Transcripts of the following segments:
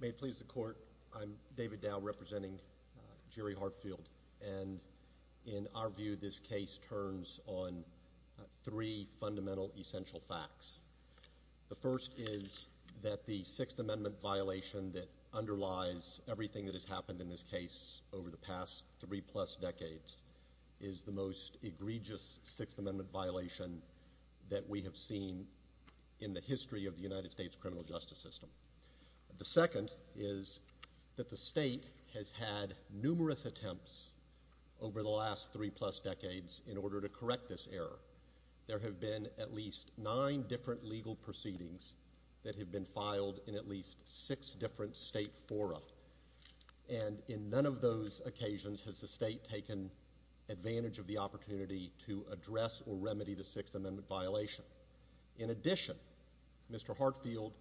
May it please the Court, I'm David Dowd representing Jerry Hartfield, and in our view this case turns on three fundamental essential facts. The first is that the Sixth Amendment violation that underlies everything that has happened in this case over the past three plus decades is the most egregious Sixth Amendment violation that we have seen in the history of the United States criminal justice system. The second is that the state has had numerous attempts over the last three plus decades in order to correct this error. There have been at least nine different legal proceedings that have been filed in at least six different state fora, and in none of those occasions has the state taken advantage of the opportunity to address or remedy the Sixth Amendment violation. In addition, Mr. Hartfield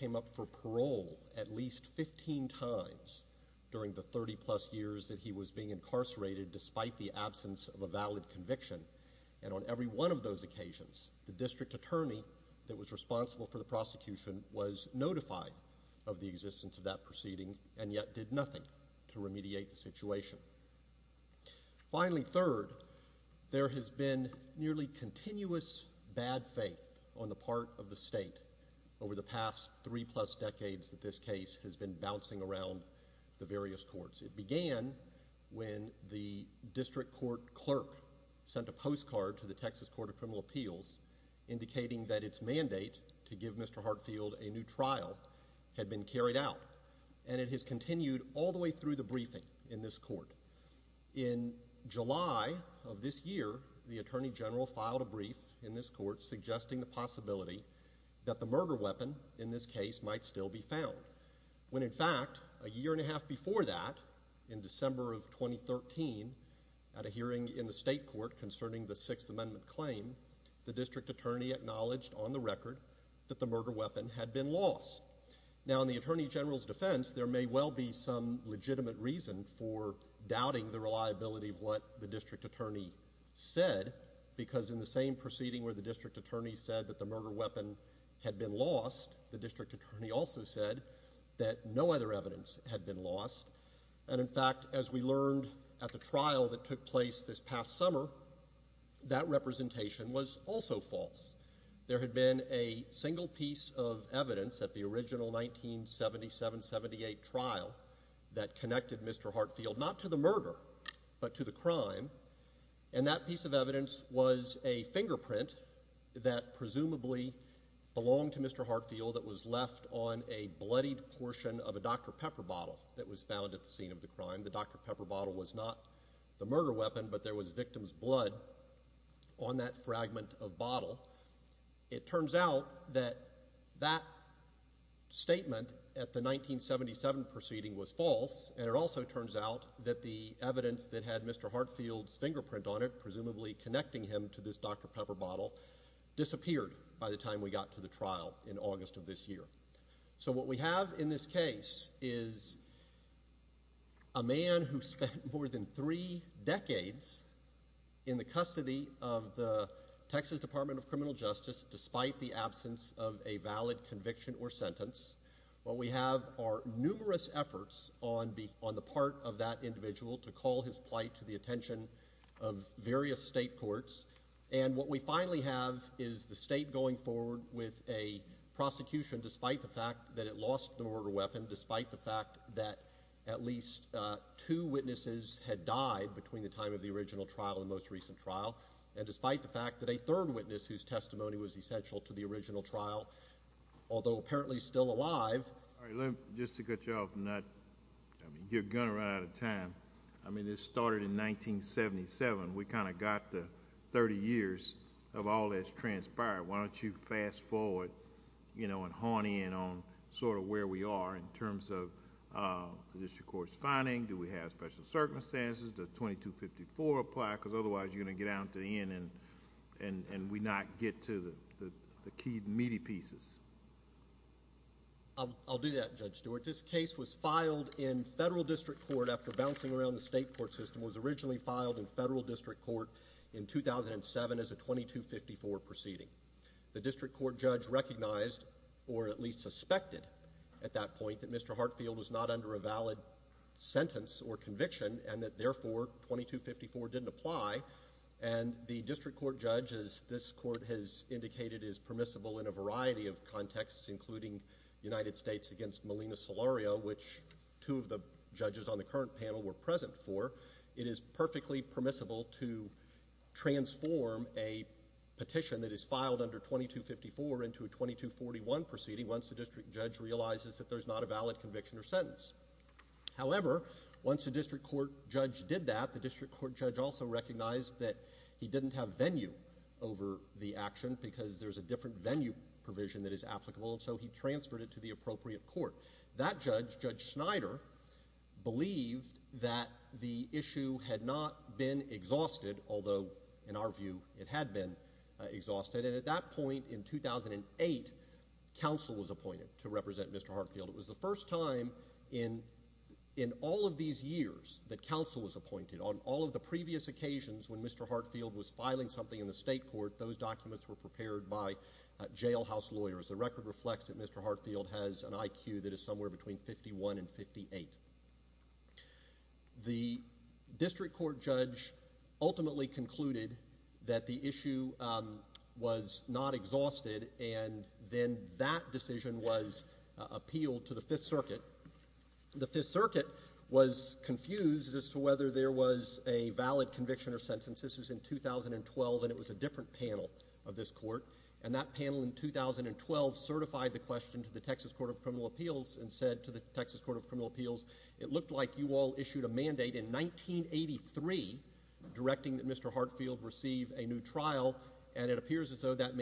came up for parole at least 15 times during the 30 plus years that he was being incarcerated despite the absence of a valid conviction, and on every one of those occasions the district attorney that was responsible for the prosecution was notified of the existence of that proceeding and yet did nothing to remediate the situation. Finally, third, there has been nearly continuous bad faith on the part of the state over the past three plus decades that this case has been bouncing around the various courts. It began when the district court clerk sent a postcard to the Texas Court of Criminal Appeals indicating that its mandate to give Mr. Hartfield a new trial had been carried out, and it has continued all the way through the briefing in this court. In July of this year, the Attorney General filed a brief in this court suggesting the possibility that the murder weapon in this case might still be found, when in fact a year and a half before that, in December of 2013, at a hearing in the state court concerning the Sixth Amendment claim, the district attorney acknowledged on the record that the murder weapon had been lost. Now in the Attorney General's defense, there may well be some legitimate reason for doubting the reliability of what the district attorney said, because in the same proceeding where the district attorney said that the murder weapon had been lost, the district attorney also said that no other evidence had been lost, and in fact as we learned at the trial that took place this past summer, that representation was also false. There had been a single piece of evidence at the original 1977-78 trial that connected Mr. Hartfield not to the murder, but to the crime, and that piece of evidence was a fingerprint that presumably belonged to Mr. Hartfield that was left on a bloodied portion of a Dr. Pepper bottle that was found at the scene of the crime. The Dr. Pepper bottle was not the murder weapon, but there was victim's blood on that fragment of bottle. It turns out that that statement at the 1977 proceeding was false, and it also turns out that the evidence that had Mr. Hartfield's fingerprint on it, presumably connecting him to this Dr. Pepper bottle, disappeared by the time we got to the trial in August of this year. So what we have in this case is a man who spent more than three decades in the custody of the Texas Department of Criminal Justice, despite the absence of a valid conviction or sentence. What we have are numerous efforts on the part of that individual to call his plight to the attention of various state courts, and what we finally have is the state going forward with a prosecution, despite the fact that it lost the murder weapon, despite the fact that at least two witnesses had died between the time of the original trial and the most recent trial, and despite the fact that a third witness whose testimony was essential to the original trial, although apparently still alive... All right, let me, just to get you off the nut, you're going to run out of time. I mean, this started in 1977. We kind of got the 30 years of all this transpired. Why don't you fast forward, you know, and hone in on sort of where we are in terms of the district court's circumstances, does 2254 apply, because otherwise you're going to get down to the end and we not get to the key meaty pieces. I'll do that, Judge Stewart. This case was filed in federal district court after bouncing around the state court system. It was originally filed in federal district court in 2007 as a 2254 proceeding. The district court judge recognized, or at least suspected at that point, that Mr. Hartfield was not under a valid sentence or conviction, and that therefore 2254 didn't apply. And the district court judge, as this court has indicated, is permissible in a variety of contexts, including United States against Melina Solorio, which two of the judges on the current panel were present for. It is perfectly permissible to transform a petition that is filed under 2254 into a 2241 proceeding once the district judge realizes that there's not a valid conviction or sentence. However, once the district court judge did that, the district court judge also recognized that he didn't have venue over the action because there's a different venue provision that is applicable, and so he transferred it to the appropriate court. That judge, Judge Snyder, believed that the issue had not been exhausted, although in our view it had been exhausted. And at that point in 2008, counsel was appointed to represent Mr. Hartfield. It was the first time in all of these years that counsel was appointed. On all of the previous occasions when Mr. Hartfield was filing something in the state court, those documents were prepared by jailhouse lawyers. The record reflects that Mr. Hartfield has an IQ that is somewhere between 51 and 58. The district court judge ultimately concluded that the issue was not exhausted, and then that decision was appealed to the Fifth Circuit. The Fifth Circuit was confused as to whether there was a valid conviction or sentence. This is in 2012, and it was a different panel of this court. And that panel in 2012 certified the question to the Texas Court of Criminal Appeals and said to the Texas Court of Criminal Appeals, it looked like you all issued a mandate in 1983 directing that Mr. Hartfield receive a new trial, and it appears as though that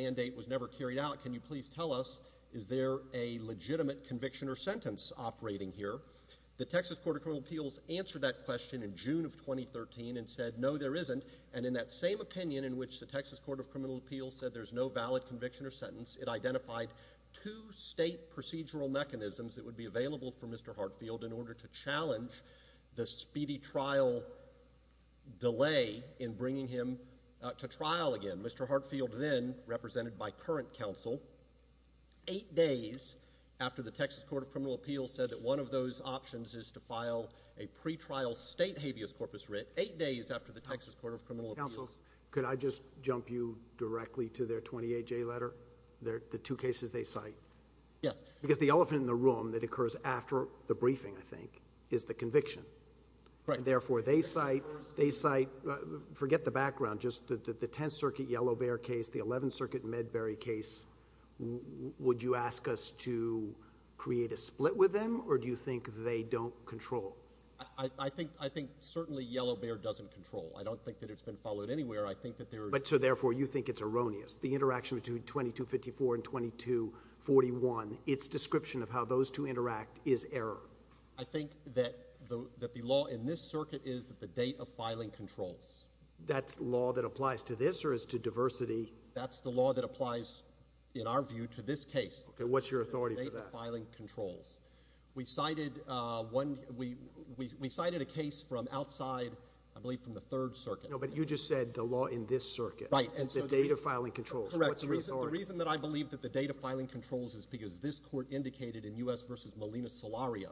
was, is there a legitimate conviction or sentence operating here? The Texas Court of Criminal Appeals answered that question in June of 2013 and said, no, there isn't. And in that same opinion in which the Texas Court of Criminal Appeals said there's no valid conviction or sentence, it identified two state procedural mechanisms that would be available for Mr. Hartfield in order to challenge the speedy trial delay in bringing him to trial again. Mr. Hartfield then, represented by current counsel, eight days after the Texas Court of Criminal Appeals said that one of those options is to file a pretrial state habeas corpus writ, eight days after the Texas Court of Criminal Appeals. Counsel, could I just jump you directly to their 28-J letter, the two cases they cite? Yes. Because the elephant in the room that occurs after the briefing, I think, is the conviction. Right. And therefore, they cite, they cite, forget the background, just the Tenth Circuit Yellow Bear case, the Eleventh Circuit Medbury case. Would you ask us to create a split with them, or do you think they don't control? I think, I think certainly Yellow Bear doesn't control. I don't think that it's been followed anywhere. I think that there are... But so therefore, you think it's erroneous. The interaction between 2254 and 2241, its description of how those two interact is error. I think that the, that the law in this circuit is that the date of filing controls. That's law that applies to this, or is to diversity? That's the law that applies, in our view, to this case. Okay, what's your authority for that? The date of filing controls. We cited one, we, we, we cited a case from outside, I believe from the Third Circuit. No, but you just said the law in this circuit. Right. Is the date of filing controls. Correct. What's your authority? The reason, the reason that I believe that the date of filing controls is because this is the case in Solario,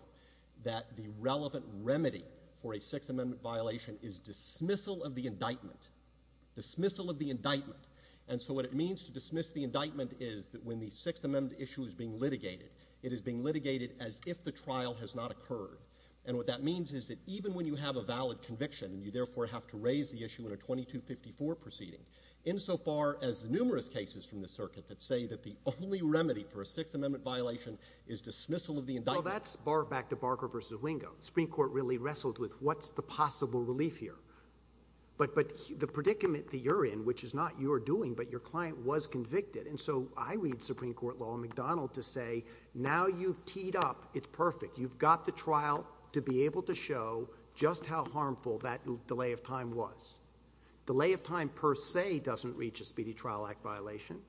that the relevant remedy for a Sixth Amendment violation is dismissal of the indictment. Dismissal of the indictment. And so what it means to dismiss the indictment is that when the Sixth Amendment issue is being litigated, it is being litigated as if the trial has not occurred. And what that means is that even when you have a valid conviction, and you therefore have to raise the issue in a 2254 proceeding, insofar as numerous cases from the circuit that say that the only remedy for a Sixth Amendment violation is dismissal of the indictment. Well, that's back to Barker versus Wingo. Supreme Court really wrestled with what's the possible relief here. But, but the predicament that you're in, which is not you're doing, but your client was convicted. And so I read Supreme Court law in McDonald to say, now you've teed up, it's perfect. You've got the trial to be able to show just how harmful that delay of time was. Delay of time per se doesn't reach a speedy trial act violation,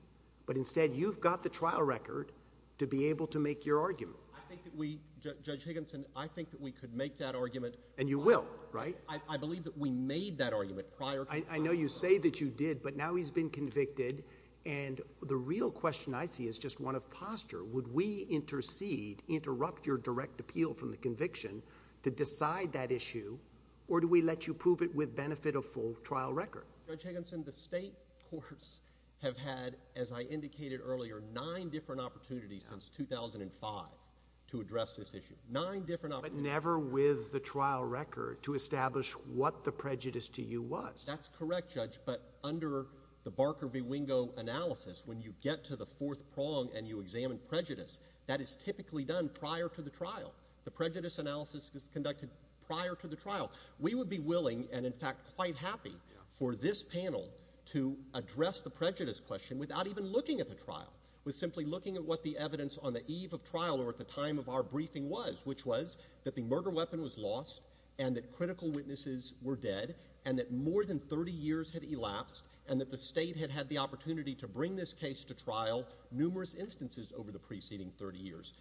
but instead you've got the trial record to be able to make your argument. I think that we, Judge Higginson, I think that we could make that argument. And you will, right? I, I believe that we made that argument prior to the trial. I, I know you say that you did, but now he's been convicted. And the real question I see is just one of posture. Would we intercede, interrupt your direct appeal from the conviction to decide that issue? Or do we let you prove it with benefit of full trial record? Judge Higginson, the state courts have had, as I indicated earlier, nine different opportunities since 2005 to address this issue. Nine different opportunities. But never with the trial record to establish what the prejudice to you was. That's correct, Judge. But under the Barker v. Wingo analysis, when you get to the fourth prong and you examine prejudice, that is typically done prior to the trial. The prejudice analysis is conducted prior to the trial. We would be willing, and in fact quite happy, for this panel to address the prejudice question without even looking at the trial, with simply looking at what the evidence on the eve of trial or at the time of our briefing was, which was that the murder weapon was lost, and that critical witnesses were dead, and that more than 30 years had elapsed, and that the state had had the opportunity to bring this case to trial numerous instances over the preceding 30 years.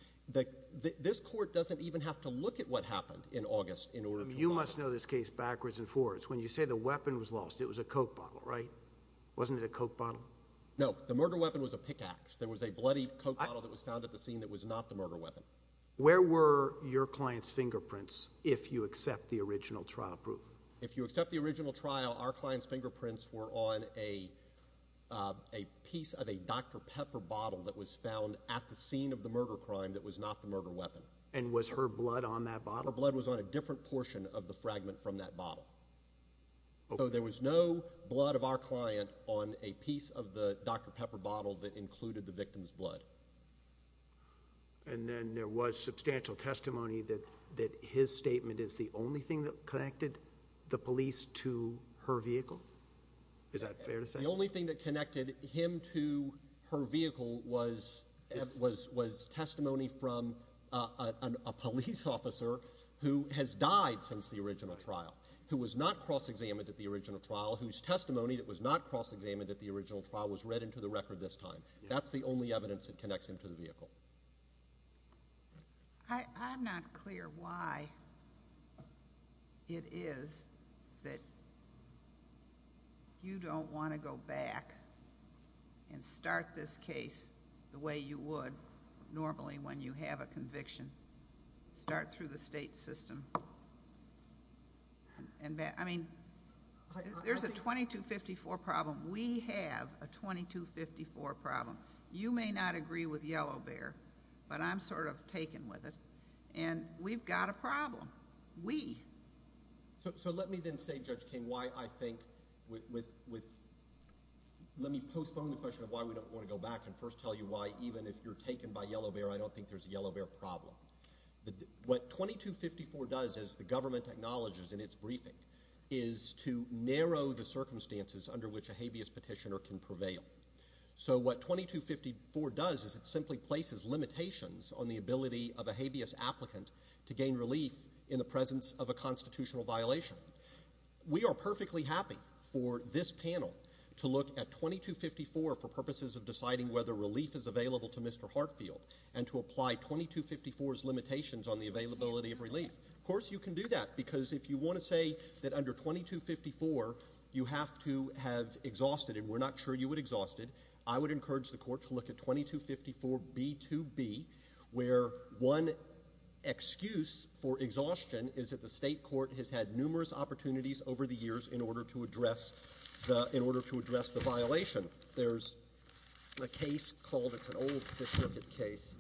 This court doesn't even have to look at what happened in August in order to find out. You must know this case backwards and forwards. When you say the weapon was lost, it was a Coke bottle, right? Wasn't it a Coke bottle? No. The murder weapon was a pickaxe. There was a bloody Coke bottle that was found at the scene that was not the murder weapon. Where were your client's fingerprints if you accept the original trial proof? If you accept the original trial, our client's fingerprints were on a piece of a Dr. Pepper bottle that was found at the scene of the murder crime that was not the murder weapon. And was her blood on that bottle? Her blood was on a different portion of the fragment from that bottle. So there was no piece of the Dr. Pepper bottle that included the victim's blood. And then there was substantial testimony that his statement is the only thing that connected the police to her vehicle? Is that fair to say? The only thing that connected him to her vehicle was testimony from a police officer who has died since the original trial, who was not cross-examined at the original trial, whose testimony from the original trial was read into the record this time. That's the only evidence that connects him to the vehicle. I'm not clear why it is that you don't want to go back and start this case the way you would normally when you have a conviction. Start through the state system. I mean, there's a 2254 problem. We have a 2254 problem. You may not agree with Yellow Bear, but I'm sort of taken with it. And we've got a problem. We. So let me then say, Judge King, why I think with—let me postpone the question of why we don't want to go back and first tell you why, even if you're taken by Yellow Bear, I don't think there's a Yellow Bear problem. What 2254 does, as the government acknowledges in its briefing, is to narrow the circumstances under which a habeas petitioner can prevail. So what 2254 does is it simply places limitations on the ability of a habeas applicant to gain relief in the presence of a constitutional violation. We are perfectly happy for this panel to look at 2254 for purposes of deciding whether relief is available to Mr. Hartfield and to apply 2254's limitations on the availability of relief. I want to say that under 2254, you have to have exhausted—and we're not sure you would have exhausted—I would encourage the Court to look at 2254b2b, where one excuse for exhaustion is that the state court has had numerous opportunities over the years in order to address the—in order to address the violation. There's a case called—it's an old Fifth Circuit case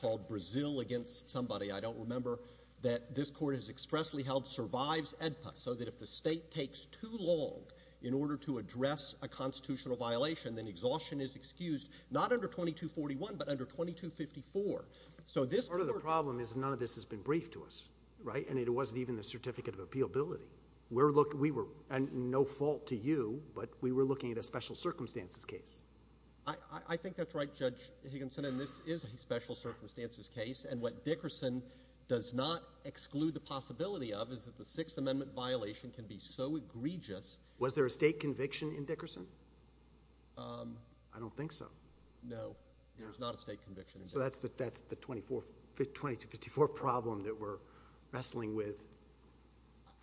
called Brazil against somebody. I don't remember that this Court has expressly held survives AEDPA, so that if the state takes too long in order to address a constitutional violation, then exhaustion is excused, not under 2241, but under 2254. So this Court— Part of the problem is none of this has been briefed to us, right? And it wasn't even the Certificate of Appealability. We're looking—we were—and no fault to you, but we were looking at a special circumstances case. I think that's right, Judge Higginson, and this is a special circumstances case. And what Dickerson does not exclude the possibility of is that the Sixth Amendment violation can be so egregious— Was there a state conviction in Dickerson? I don't think so. No, there's not a state conviction in Dickerson. So that's the 24—2254 problem that we're wrestling with.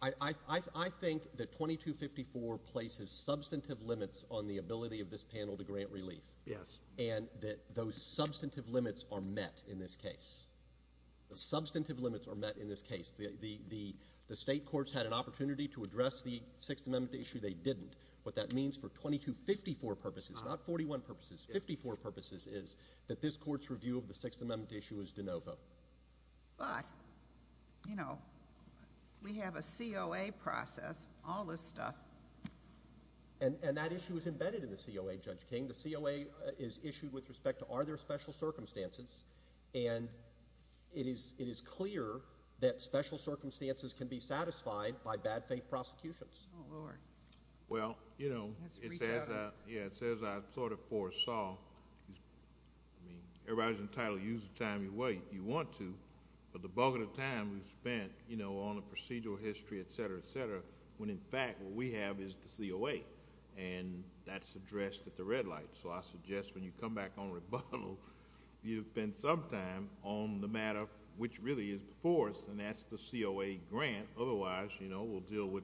I think that 2254 places substantive limits on the ability of this panel to grant relief. Yes. And that those substantive limits are met in this case. The substantive limits are met in this case. The state courts had an opportunity to address the Sixth Amendment issue. They didn't. What that means for 2254 purposes—not 41 purposes, 54 purposes—is that this Court's review of the Sixth Amendment issue is de novo. But, you know, we have a COA process, all this stuff. And that issue is embedded in the COA, Judge King. The COA is issued with respect to are there special circumstances, and it is clear that special circumstances can be satisfied by bad-faith prosecutions. Oh, Lord. Well, you know, it says I sort of foresaw—everybody's entitled to use the time you want to, but the bulk of the time we've spent on the procedural history, et cetera, et cetera, when in fact what we have is the COA. And that's addressed at the red light. So I suggest when you come back on rebuttal, you spend some time on the matter which really is before us, and that's the COA grant. Otherwise, you know, we'll deal with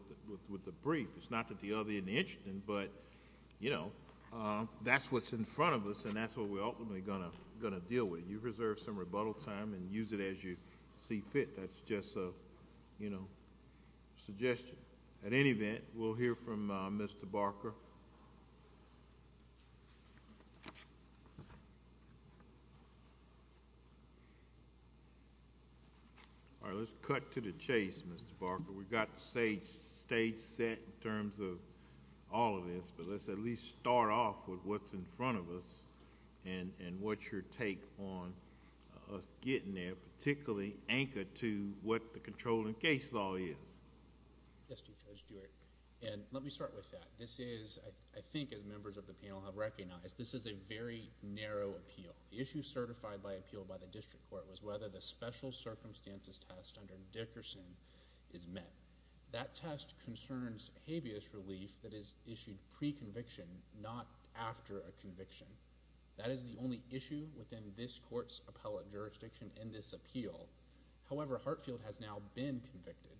the brief. It's not that the other isn't interesting, but, you know, that's what's in front of us, and that's what we're ultimately going to deal with. You reserve some rebuttal time and use it as you see fit. That's just a, you know, suggestion. At any event, we'll hear from Mr. Barker. All right, let's cut to the chase, Mr. Barker. We've got the stage set in terms of all of this, but let's at least start off with what's in front of us and what's your take on us as to what the controlling case law is? Yes, Judge Stewart. And let me start with that. This is, I think as members of the panel have recognized, this is a very narrow appeal. The issue certified by appeal by the District Court was whether the special circumstances test under Dickerson is met. That test concerns habeas relief that is issued pre-conviction, not after a conviction. That is the only issue within this Court's appellate jurisdiction in this appeal. However, Hartfield has now been convicted.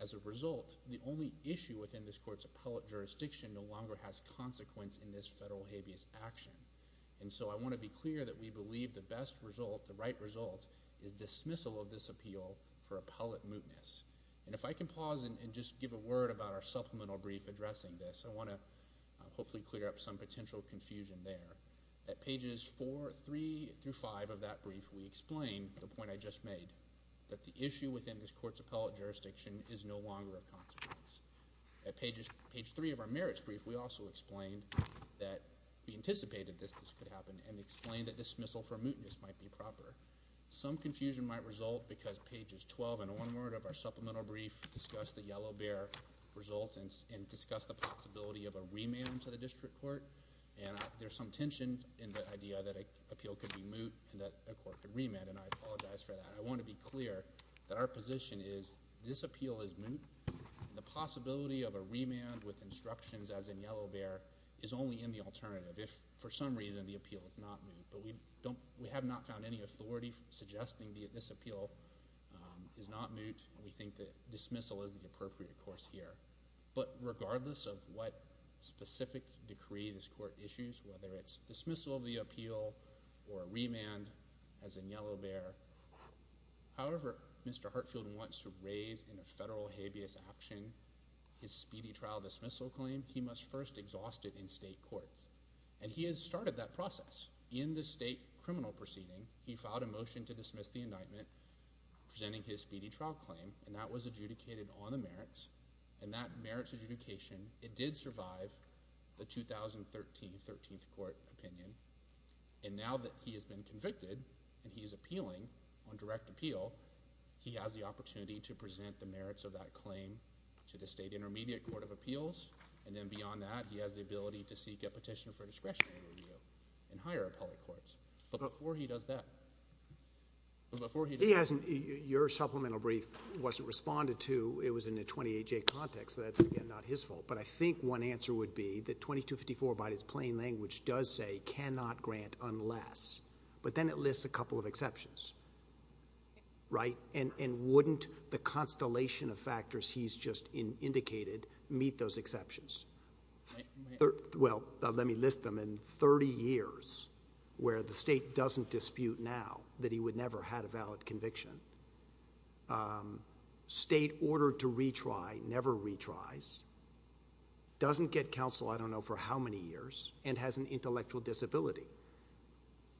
As a result, the only issue within this Court's appellate jurisdiction no longer has consequence in this federal habeas action. And so I want to be clear that we believe the best result, the right result, is dismissal of this appeal for appellate mootness. And if I can pause and just give a word about our supplemental brief addressing this, I want to hopefully clear up some potential confusion there. At pages 4, 3, through 5 of that brief, we explain the point I just made, that the issue within this Court's appellate jurisdiction is no longer of consequence. At page 3 of our merits brief, we also explain that we anticipated this could happen and explain that dismissal for mootness might be proper. Some confusion might result because pages 12 and onward of our supplemental brief discuss the Yellow Bear result and discuss the possibility of a remand to the District Court. And there's some tension in the idea that an appeal could be moot and that a court could remand, and I apologize for that. I want to be clear that our position is this appeal is moot. The possibility of a remand with instructions as in Yellow Bear is only in the alternative. If for some reason the appeal is not moot, but we have not found any authority suggesting this appeal is not moot, we think that dismissal is the appropriate course here. But regardless of what specific decree this Court issues, whether it's dismissal of the appeal or a remand as in Yellow Bear, however Mr. Hartfield wants to raise in a federal habeas action his speedy trial dismissal claim, he must first exhaust it in state courts. And he has started that process in the state criminal proceeding. He filed a motion to dismiss the indictment presenting his speedy trial claim, and that was adjudicated on the merits. And that merits adjudication, it did survive the 2013 13th Court opinion. And now that he has been convicted and he is appealing on direct appeal, he has the opportunity to present the merits of that claim to the state intermediate court of appeals. And then beyond that, he has the ability to seek a petition for discretionary review in higher appellate courts. But before he does that, but before he does that... He hasn't, your supplemental brief wasn't responded to, it was in a 28-J context, so that's again not his fault. But I think one answer would be that 2254 by its plain language does say cannot grant unless, but then it lists a couple of exceptions, right? And wouldn't the constellation of factors he's just indicated meet those exceptions? Well, let me list them in 30 years where the state doesn't dispute now that he would never had a valid conviction. State ordered to retry never retries, doesn't get counsel I don't know for how many years, and has an intellectual disability.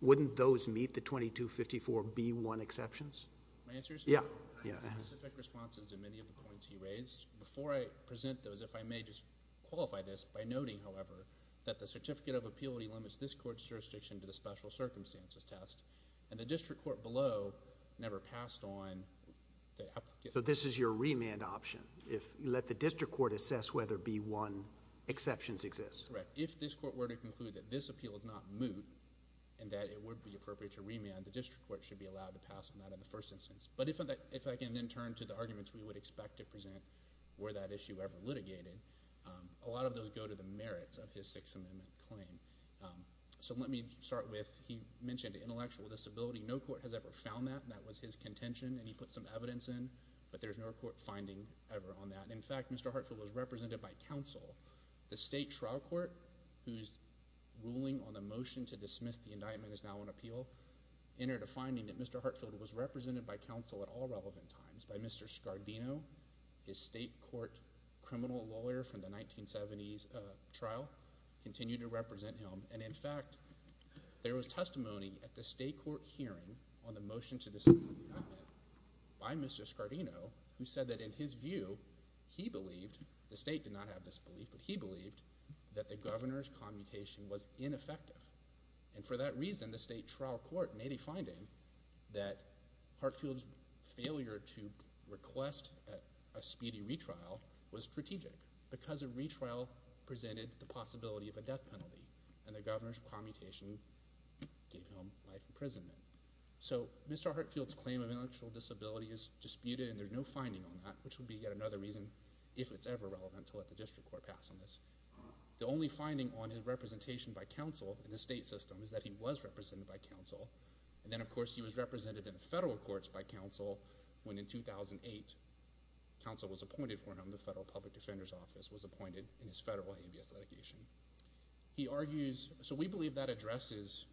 Wouldn't those meet the 2254B1 exceptions? My answer is no. I have specific responses to many of the points he raised. Before I present those, if I may just qualify this by noting, however, that the Certificate of Appeal delimits this court's jurisdiction to the special circumstances test, and the district court below never passed on the application. So this is your remand option? If you let the district court assess whether B1 exceptions exist? Correct. If this court were to conclude that this appeal is not moot, and that it would not be appropriate to remand, the district court should be allowed to pass on that in the first instance. But if I can then turn to the arguments we would expect to present were that issue ever litigated, a lot of those go to the merits of his Sixth Amendment claim. So let me start with he mentioned intellectual disability. No court has ever found that. That was his contention, and he put some evidence in, but there's no court finding ever on that. In fact, Mr. Hartfield was represented by counsel. The state trial court who's ruling on the motion to dismiss the indictment is now on appeal, entered a finding that Mr. Hartfield was represented by counsel at all relevant times by Mr. Scardino, his state court criminal lawyer from the 1970s trial, continued to represent him. And in fact, there was testimony at the state court hearing on the motion to dismiss the indictment by Mr. Scardino, who said that in his view, he believed, the state did not have this belief, but he And for that reason, the state trial court made a finding that Hartfield's failure to request a speedy retrial was strategic, because a retrial presented the possibility of a death penalty, and the governor's commutation gave him life imprisonment. So Mr. Hartfield's claim of intellectual disability is disputed, and there's no finding on that, which would be yet another reason, if it's ever relevant, to let the district court pass on this. The only finding on his representation by counsel in the state system is that he was represented by counsel, and then of course he was represented in federal courts by counsel when in 2008, counsel was appointed for him, the Federal Public Defender's Office was appointed in his federal habeas litigation. He argues, so we believe that addresses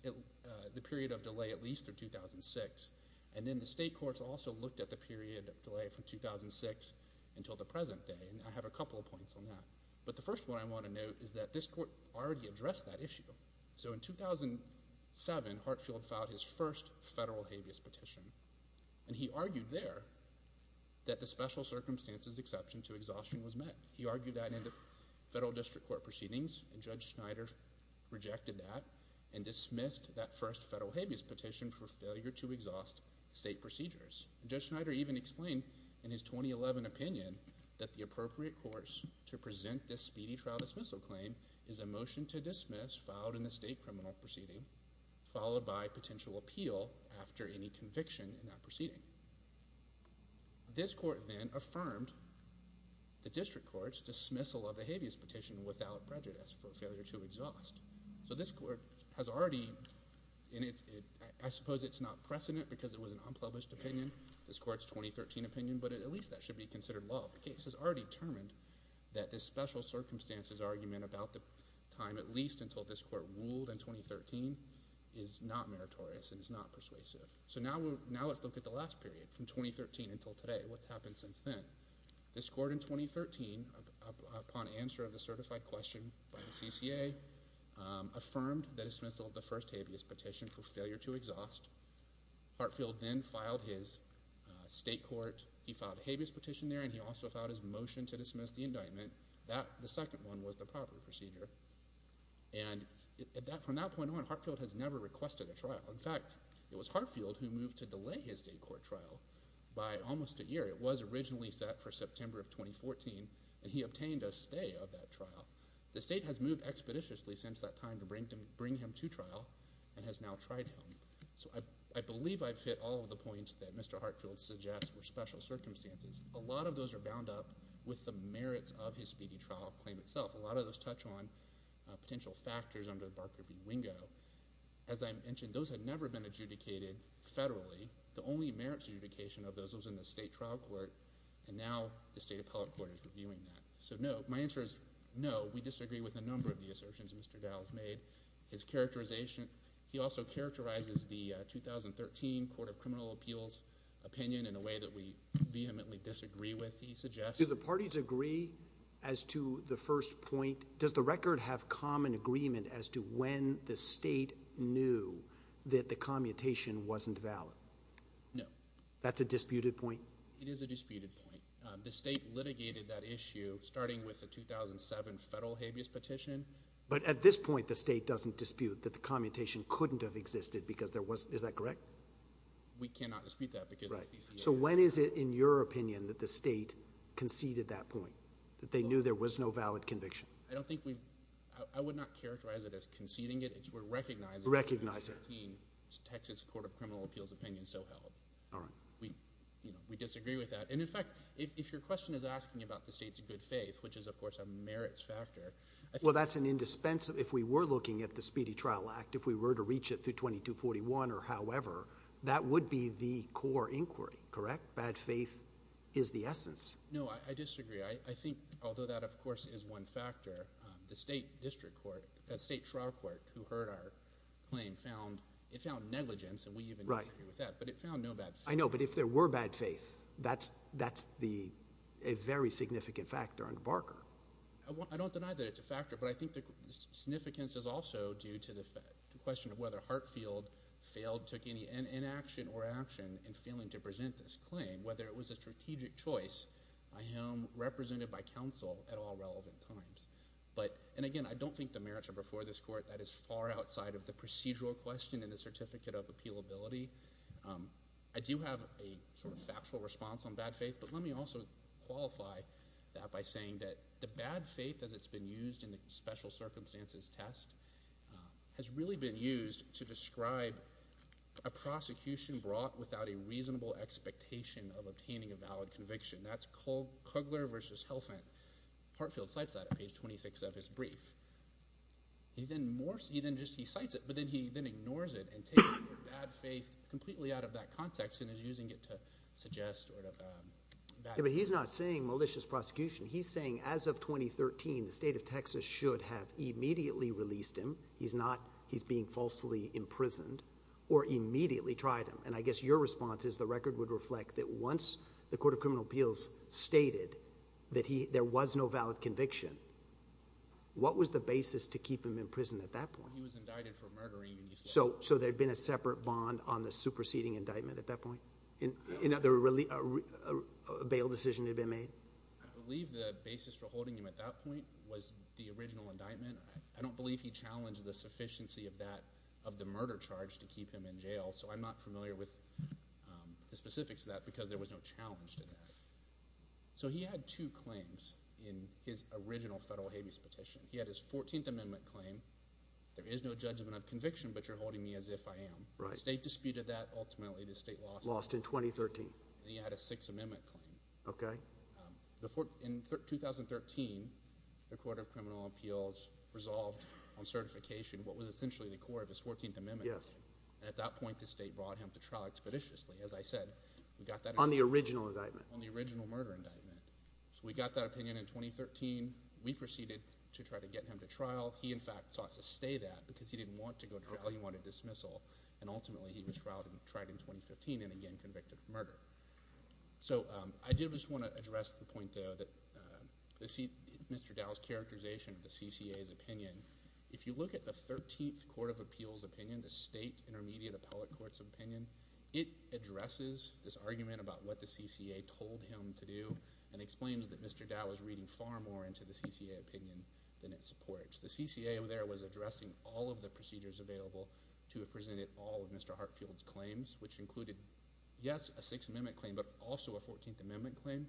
the period of delay at least through 2006, and then the state courts also looked at the period of delay from 2006 until the present day, and I have a couple of points on that. But the first one I want to note is that this court already addressed that issue. So in 2007, Hartfield filed his first federal habeas petition, and he argued there that the special circumstances exception to exhaustion was met. He argued that in the federal district court proceedings, and Judge Schneider rejected that and dismissed that first federal habeas petition for failure to exhaust state procedures. Judge Schneider even explained in his 2011 opinion that the appropriate course to present this speedy trial dismissal claim is a motion to dismiss filed in the state criminal proceeding, followed by potential appeal after any conviction in that proceeding. This court then affirmed the district court's dismissal of the habeas petition without prejudice for failure to exhaust. So this court has already, and I suppose it's not precedent because it was an unpublished opinion, this court's 2013 opinion, but at least that should be considered law. The case has already determined that this special circumstances argument about the time at least until this court ruled in 2013 is not meritorious and is not persuasive. So now let's look at the last period from 2013 until today, what's happened since then. This court in 2013, upon answer of the certified question by the CCA, affirmed the dismissal of the first habeas petition for failure to exhaust. He filed a habeas petition there and he also filed his motion to dismiss the indictment. The second one was the proper procedure. And from that point on, Hartfield has never requested a trial. In fact, it was Hartfield who moved to delay his state court trial by almost a year. It was originally set for September of 2014, and he obtained a stay of that trial. The state has moved expeditiously since that time to bring him to trial and has now tried him. So I believe I've hit all of the points that Mr. Hartfield suggests were special circumstances. A lot of those are bound up with the merits of his speedy trial claim itself. A lot of those touch on potential factors under the Barker v. Wingo. As I mentioned, those had never been adjudicated federally. The only merits adjudication of those was in the state trial court, and now the state appellate court is reviewing that. So no, my answer is no. We disagree with a number of the assertions Mr. Dowell has made. His characterization, he also characterizes the 2013 Court of Criminal Appeals opinion in a way that we vehemently disagree with, he suggests. Do the parties agree as to the first point? Does the record have common agreement as to when the state knew that the commutation wasn't valid? No. That's a disputed point? It is a disputed point. The state litigated that issue starting with the 2007 federal habeas petition. But at this point, the state doesn't dispute that the commutation couldn't have existed because there was, is that correct? We cannot dispute that because the CCA... Right. So when is it, in your opinion, that the state conceded that point? That they knew there was no valid conviction? I don't think we, I would not characterize it as conceding it. We're recognizing... Recognize it. The 2013 Texas Court of Criminal Appeals opinion so held. All right. We, you know, we disagree with that. And in fact, if, if your question is asking about the state's good faith, which is of course a merits factor, I think... Well, that's an indispensable, if we were looking at the Speedy Trial Act, if we were to reach it through 2241 or however, that would be the core inquiry, correct? Bad faith is the essence. No, I, I disagree. I, I think although that of course is one factor, um, the state district court, uh, state trial court who heard our claim found, it found negligence and we even... Right. ...agree with that. But it found no bad faith. I know, but if there were bad faith, that's, that's the, a very significant factor under Barker. I want, I don't deny that it's a factor, but I think the significance is also due to the fact, the question of whether Hartfield failed, took any in, inaction or action in failing to present this claim. Whether it was a strategic choice by him, represented by counsel at all relevant times. But, and again, I don't think the merits are before this court. That is far outside of the procedural question and the certificate of appealability. Um, I do have a sort of factual response on bad faith, but let me also qualify that by saying that the bad faith as it's been used in the special circumstances test, um, has really been used to describe a prosecution brought without a reasonable expectation of obtaining a valid conviction. That's Kogler versus Helfand. Hartfield cites that at page 26 of his brief. He then more, he then just, he cites it, but then he then ignores it and takes the word bad faith completely out of that context and is using it to suggest sort of, um, bad faith. Yeah, but he's not saying malicious prosecution. He's saying as of 2013, the state of Texas should have immediately released him. He's not, he's being falsely imprisoned or immediately tried him. And I guess your response is the record would reflect that once the court of criminal appeals stated that he, there was no valid conviction, what was the basis to keep him in prison at that point? He was indicted for murdering. So, so there'd been a separate bond on the superseding indictment at that point? Another really, a bail decision had been made? I believe the basis for holding him at that point was the original indictment. I don't believe he challenged the sufficiency of that, of the murder charge to keep him in jail. So I'm not familiar with, um, the specifics of that because there was no challenge to that. So he had two claims in his original federal habeas petition. He had his 14th amendment claim. There is no judgment of conviction, but you're holding me as if I am. Right. State disputed that. Ultimately the state lost. Lost in 2013. And he had a sixth amendment claim. Okay. Um, the fourth, in 2013, the court of criminal appeals resolved on certification what was essentially the core of his 14th amendment. Yes. And at that point, the state brought him to trial expeditiously. As I said, we got that on the original indictment, on the original murder indictment. So we got that opinion in 2013. We proceeded to try to get him to trial. He, in fact, sought to stay that because he didn't want to go to trial. He wanted dismissal. And ultimately he was tried in 2015 and again convicted of murder. So, um, I do just want to address the point, though, that, um, Mr. Dow's characterization of the CCA's opinion, if you look at the 13th court of appeals opinion, the state intermediate appellate court's opinion, it addresses this far more into the CCA opinion than it supports. The CCA there was addressing all of the procedures available to have presented all of Mr. Hartfield's claims, which included, yes, a sixth amendment claim, but also a 14th amendment claim.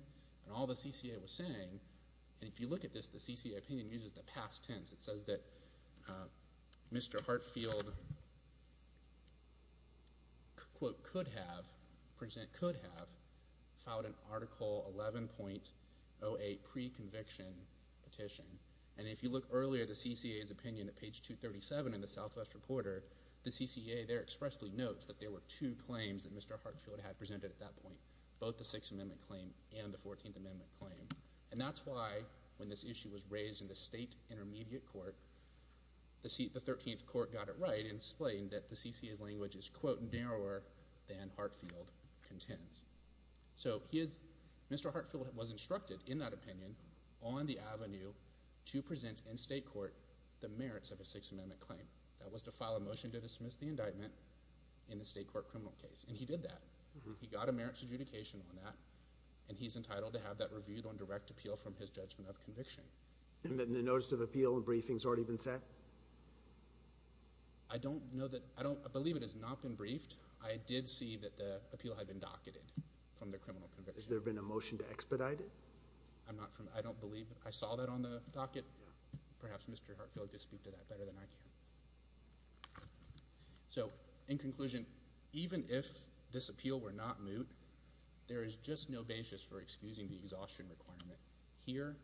And all the CCA was saying, and if you look at this, the CCA opinion uses the past tense. It says that, um, Mr. Hartfield, quote, could have filed an article 11.08 pre-conviction petition. And if you look earlier, the CCA's opinion at page 237 in the Southwest Reporter, the CCA there expressly notes that there were two claims that Mr. Hartfield had presented at that point, both the sixth amendment claim and the 14th amendment claim. And that's why, when this issue was raised in the state intermediate court, the 13th court got it right and explained that the CCA's language is, quote, narrower than Hartfield contends. So he is, Mr. Hartfield was instructed in that opinion on the avenue to present in state court the merits of a sixth amendment claim. That was to file a motion to dismiss the indictment in the state court criminal case. And he did that. He got a merits adjudication on that, and he's entitled to have that reviewed on direct appeal from his judgment of conviction. And the notice of appeal and briefing's already been set? I don't know that, I don't, I believe it has not been briefed. I did see that the appeal had been docketed from the criminal conviction. Has there been a motion to expedite it? I'm not from, I don't believe I saw that on the docket. Yeah. Perhaps Mr. Hartfield could speak to that better than I can. So, in conclusion, even if this appeal were not moot, there is just no basis for excusing the exhaustion requirement here.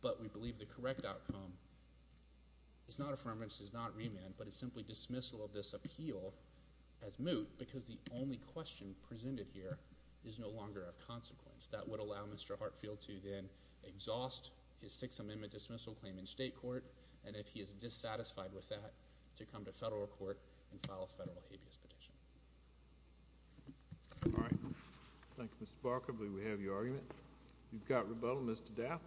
But we believe the correct outcome is not affirmance, is not remand, but is simply dismissal of this appeal as moot, because the only question presented here is no longer of consequence. That would allow Mr. Hartfield to then exhaust his sixth amendment dismissal claim in state court, and if he is dissatisfied with that, to come to federal court and file a federal habeas petition. All right. Thank you, Mr. Barker. I believe we have your argument. You've got rebuttal, Mr. Daff.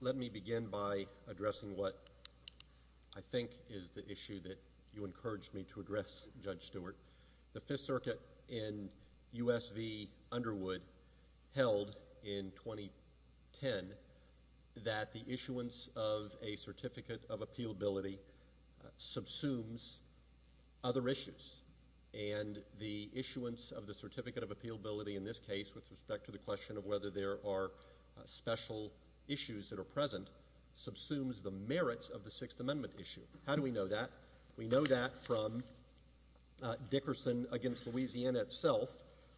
Let me begin by addressing what I think is the issue that you encouraged me to address, Judge Stewart. The Fifth Circuit in U.S. v. Underwood held in 2010 that the issuance of a Certificate of Appealability subsumes other issues. And the issuance of the Certificate of Appealability in this case, with respect to the question of whether there are special issues that are present, subsumes the merits of the Sixth Amendment issue. How do we know that? We know that from Dickerson v. Louisiana itself,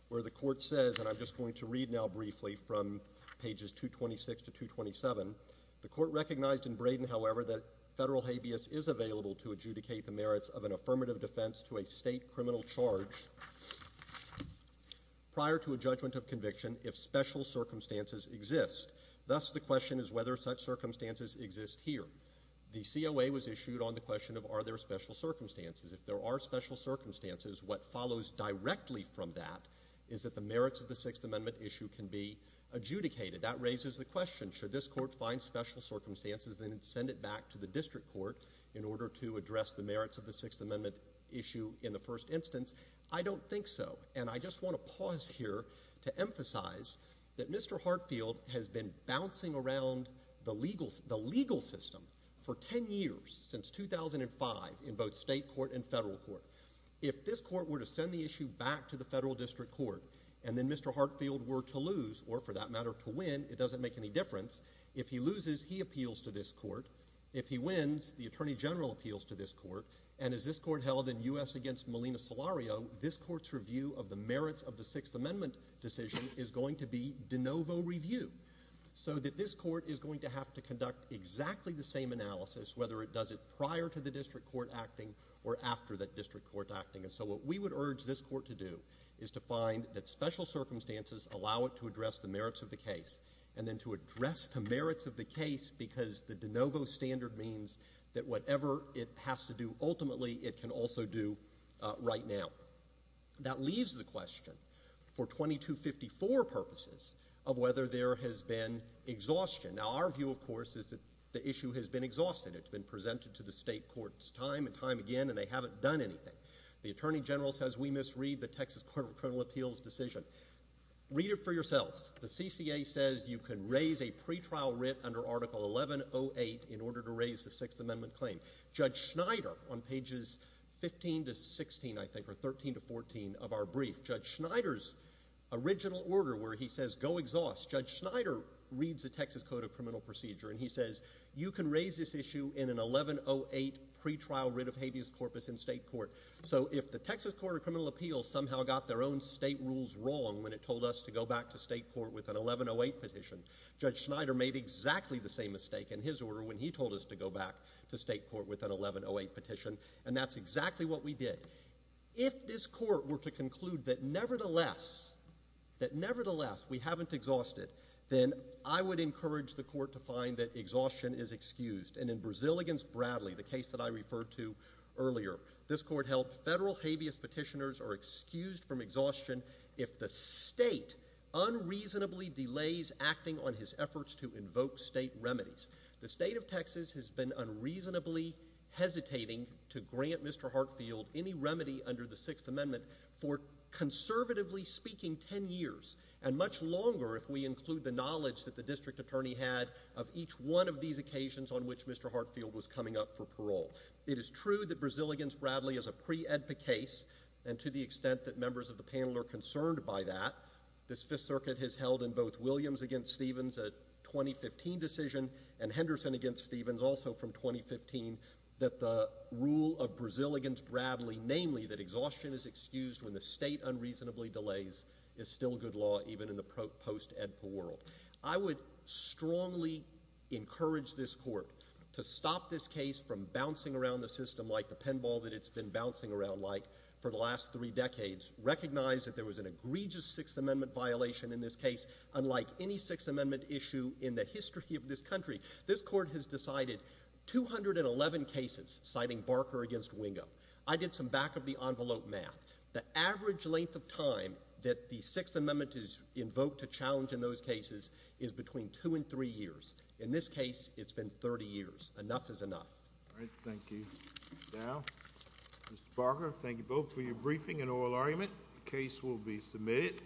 where the court says, and I'm just recognizing in Braden, however, that federal habeas is available to adjudicate the merits of an affirmative defense to a state criminal charge prior to a judgment of conviction if special circumstances exist. Thus, the question is whether such circumstances exist here. The COA was issued on the question of are there special circumstances. If there are special circumstances, what follows directly from that is that the merits of the Sixth Amendment issue can be adjudicated. That raises the question, should this court find special circumstances and then send it back to the district court in order to address the merits of the Sixth Amendment issue in the first instance? I don't think so. And I just want to pause here to emphasize that Mr. Hartfield has been bouncing around the legal system for ten years, since 2005, in both state court and federal court. If this court were to send the issue back to the federal district court, and then Mr. Hartfield were to lose, or for that matter, to win, it doesn't make any difference. If he loses, he appeals to this court. If he wins, the Attorney General appeals to this court. And as this court held in U.S. v. Molina-Salario, this court's review of the merits of the Sixth Amendment decision is going to be de novo review. So that this court is going to have to conduct exactly the same analysis, whether it does it prior to the district court acting or after that district court acting. And so what we would urge this court to do is to find that special merits of the case, and then to address the merits of the case, because the de novo standard means that whatever it has to do ultimately, it can also do right now. That leaves the question, for 2254 purposes, of whether there has been exhaustion. Now our view, of course, is that the issue has been exhausted. It's been presented to the state courts time and time again, and they haven't done anything. The Attorney General says we misread the Texas Court of Criminal Appeals decision. Read it for yourselves. The CCA says you can raise a pretrial writ under Article 1108 in order to raise the Sixth Amendment claim. Judge Schneider, on pages 15 to 16, I think, or 13 to 14 of our brief, Judge Schneider's original order where he says, go exhaust, Judge Schneider reads the Texas Code of Criminal Procedure, and he says, you can raise this issue in an 1108 pretrial writ of habeas corpus in state court. So if the Texas Court of Criminal Appeals somehow got their own state rules wrong when it told us to go back to state court with an 1108 petition, Judge Schneider made exactly the same mistake in his order when he told us to go back to state court with an 1108 petition, and that's exactly what we did. If this court were to conclude that nevertheless, that nevertheless, we haven't exhausted, then I would encourage the court to find that exhaustion is excused. And in Brazil against Bradley, the case that I referred to earlier, this court held federal habeas petitioners are excused from exhaustion if the state unreasonably delays acting on his efforts to invoke state remedies. The state of Texas has been unreasonably hesitating to grant Mr. Hartfield any remedy under the Sixth Amendment for, conservatively speaking, ten years, and much longer if we include the knowledge that the district attorney had of each one of these occasions on which Mr. Hartfield was coming up for parole. It is true that Brazil against Bradley is a pre-EDPA case, and to the extent that members of the panel are concerned by that, this Fifth Circuit has held in both Williams against Stevens a 2015 decision, and Henderson against Stevens also from 2015, that the rule of Brazil against Bradley, namely that exhaustion is excused when the state unreasonably delays, is still good law even in the post-EDPA world. I would strongly encourage this court to stop this case from bouncing around the system like the pinball that it's been bouncing around like for the last three decades, recognize that there was an egregious Sixth Amendment violation in this case, unlike any Sixth Amendment issue in the history of this country. This court has decided 211 cases, citing Barker against Wingo. I did some back-of-the-envelope math. The average length of time that the case is between two and three years. In this case, it's been 30 years. Enough is enough. All right. Thank you. Now, Mr. Barker, thank you both for your briefing and oral argument. The case will be submitted.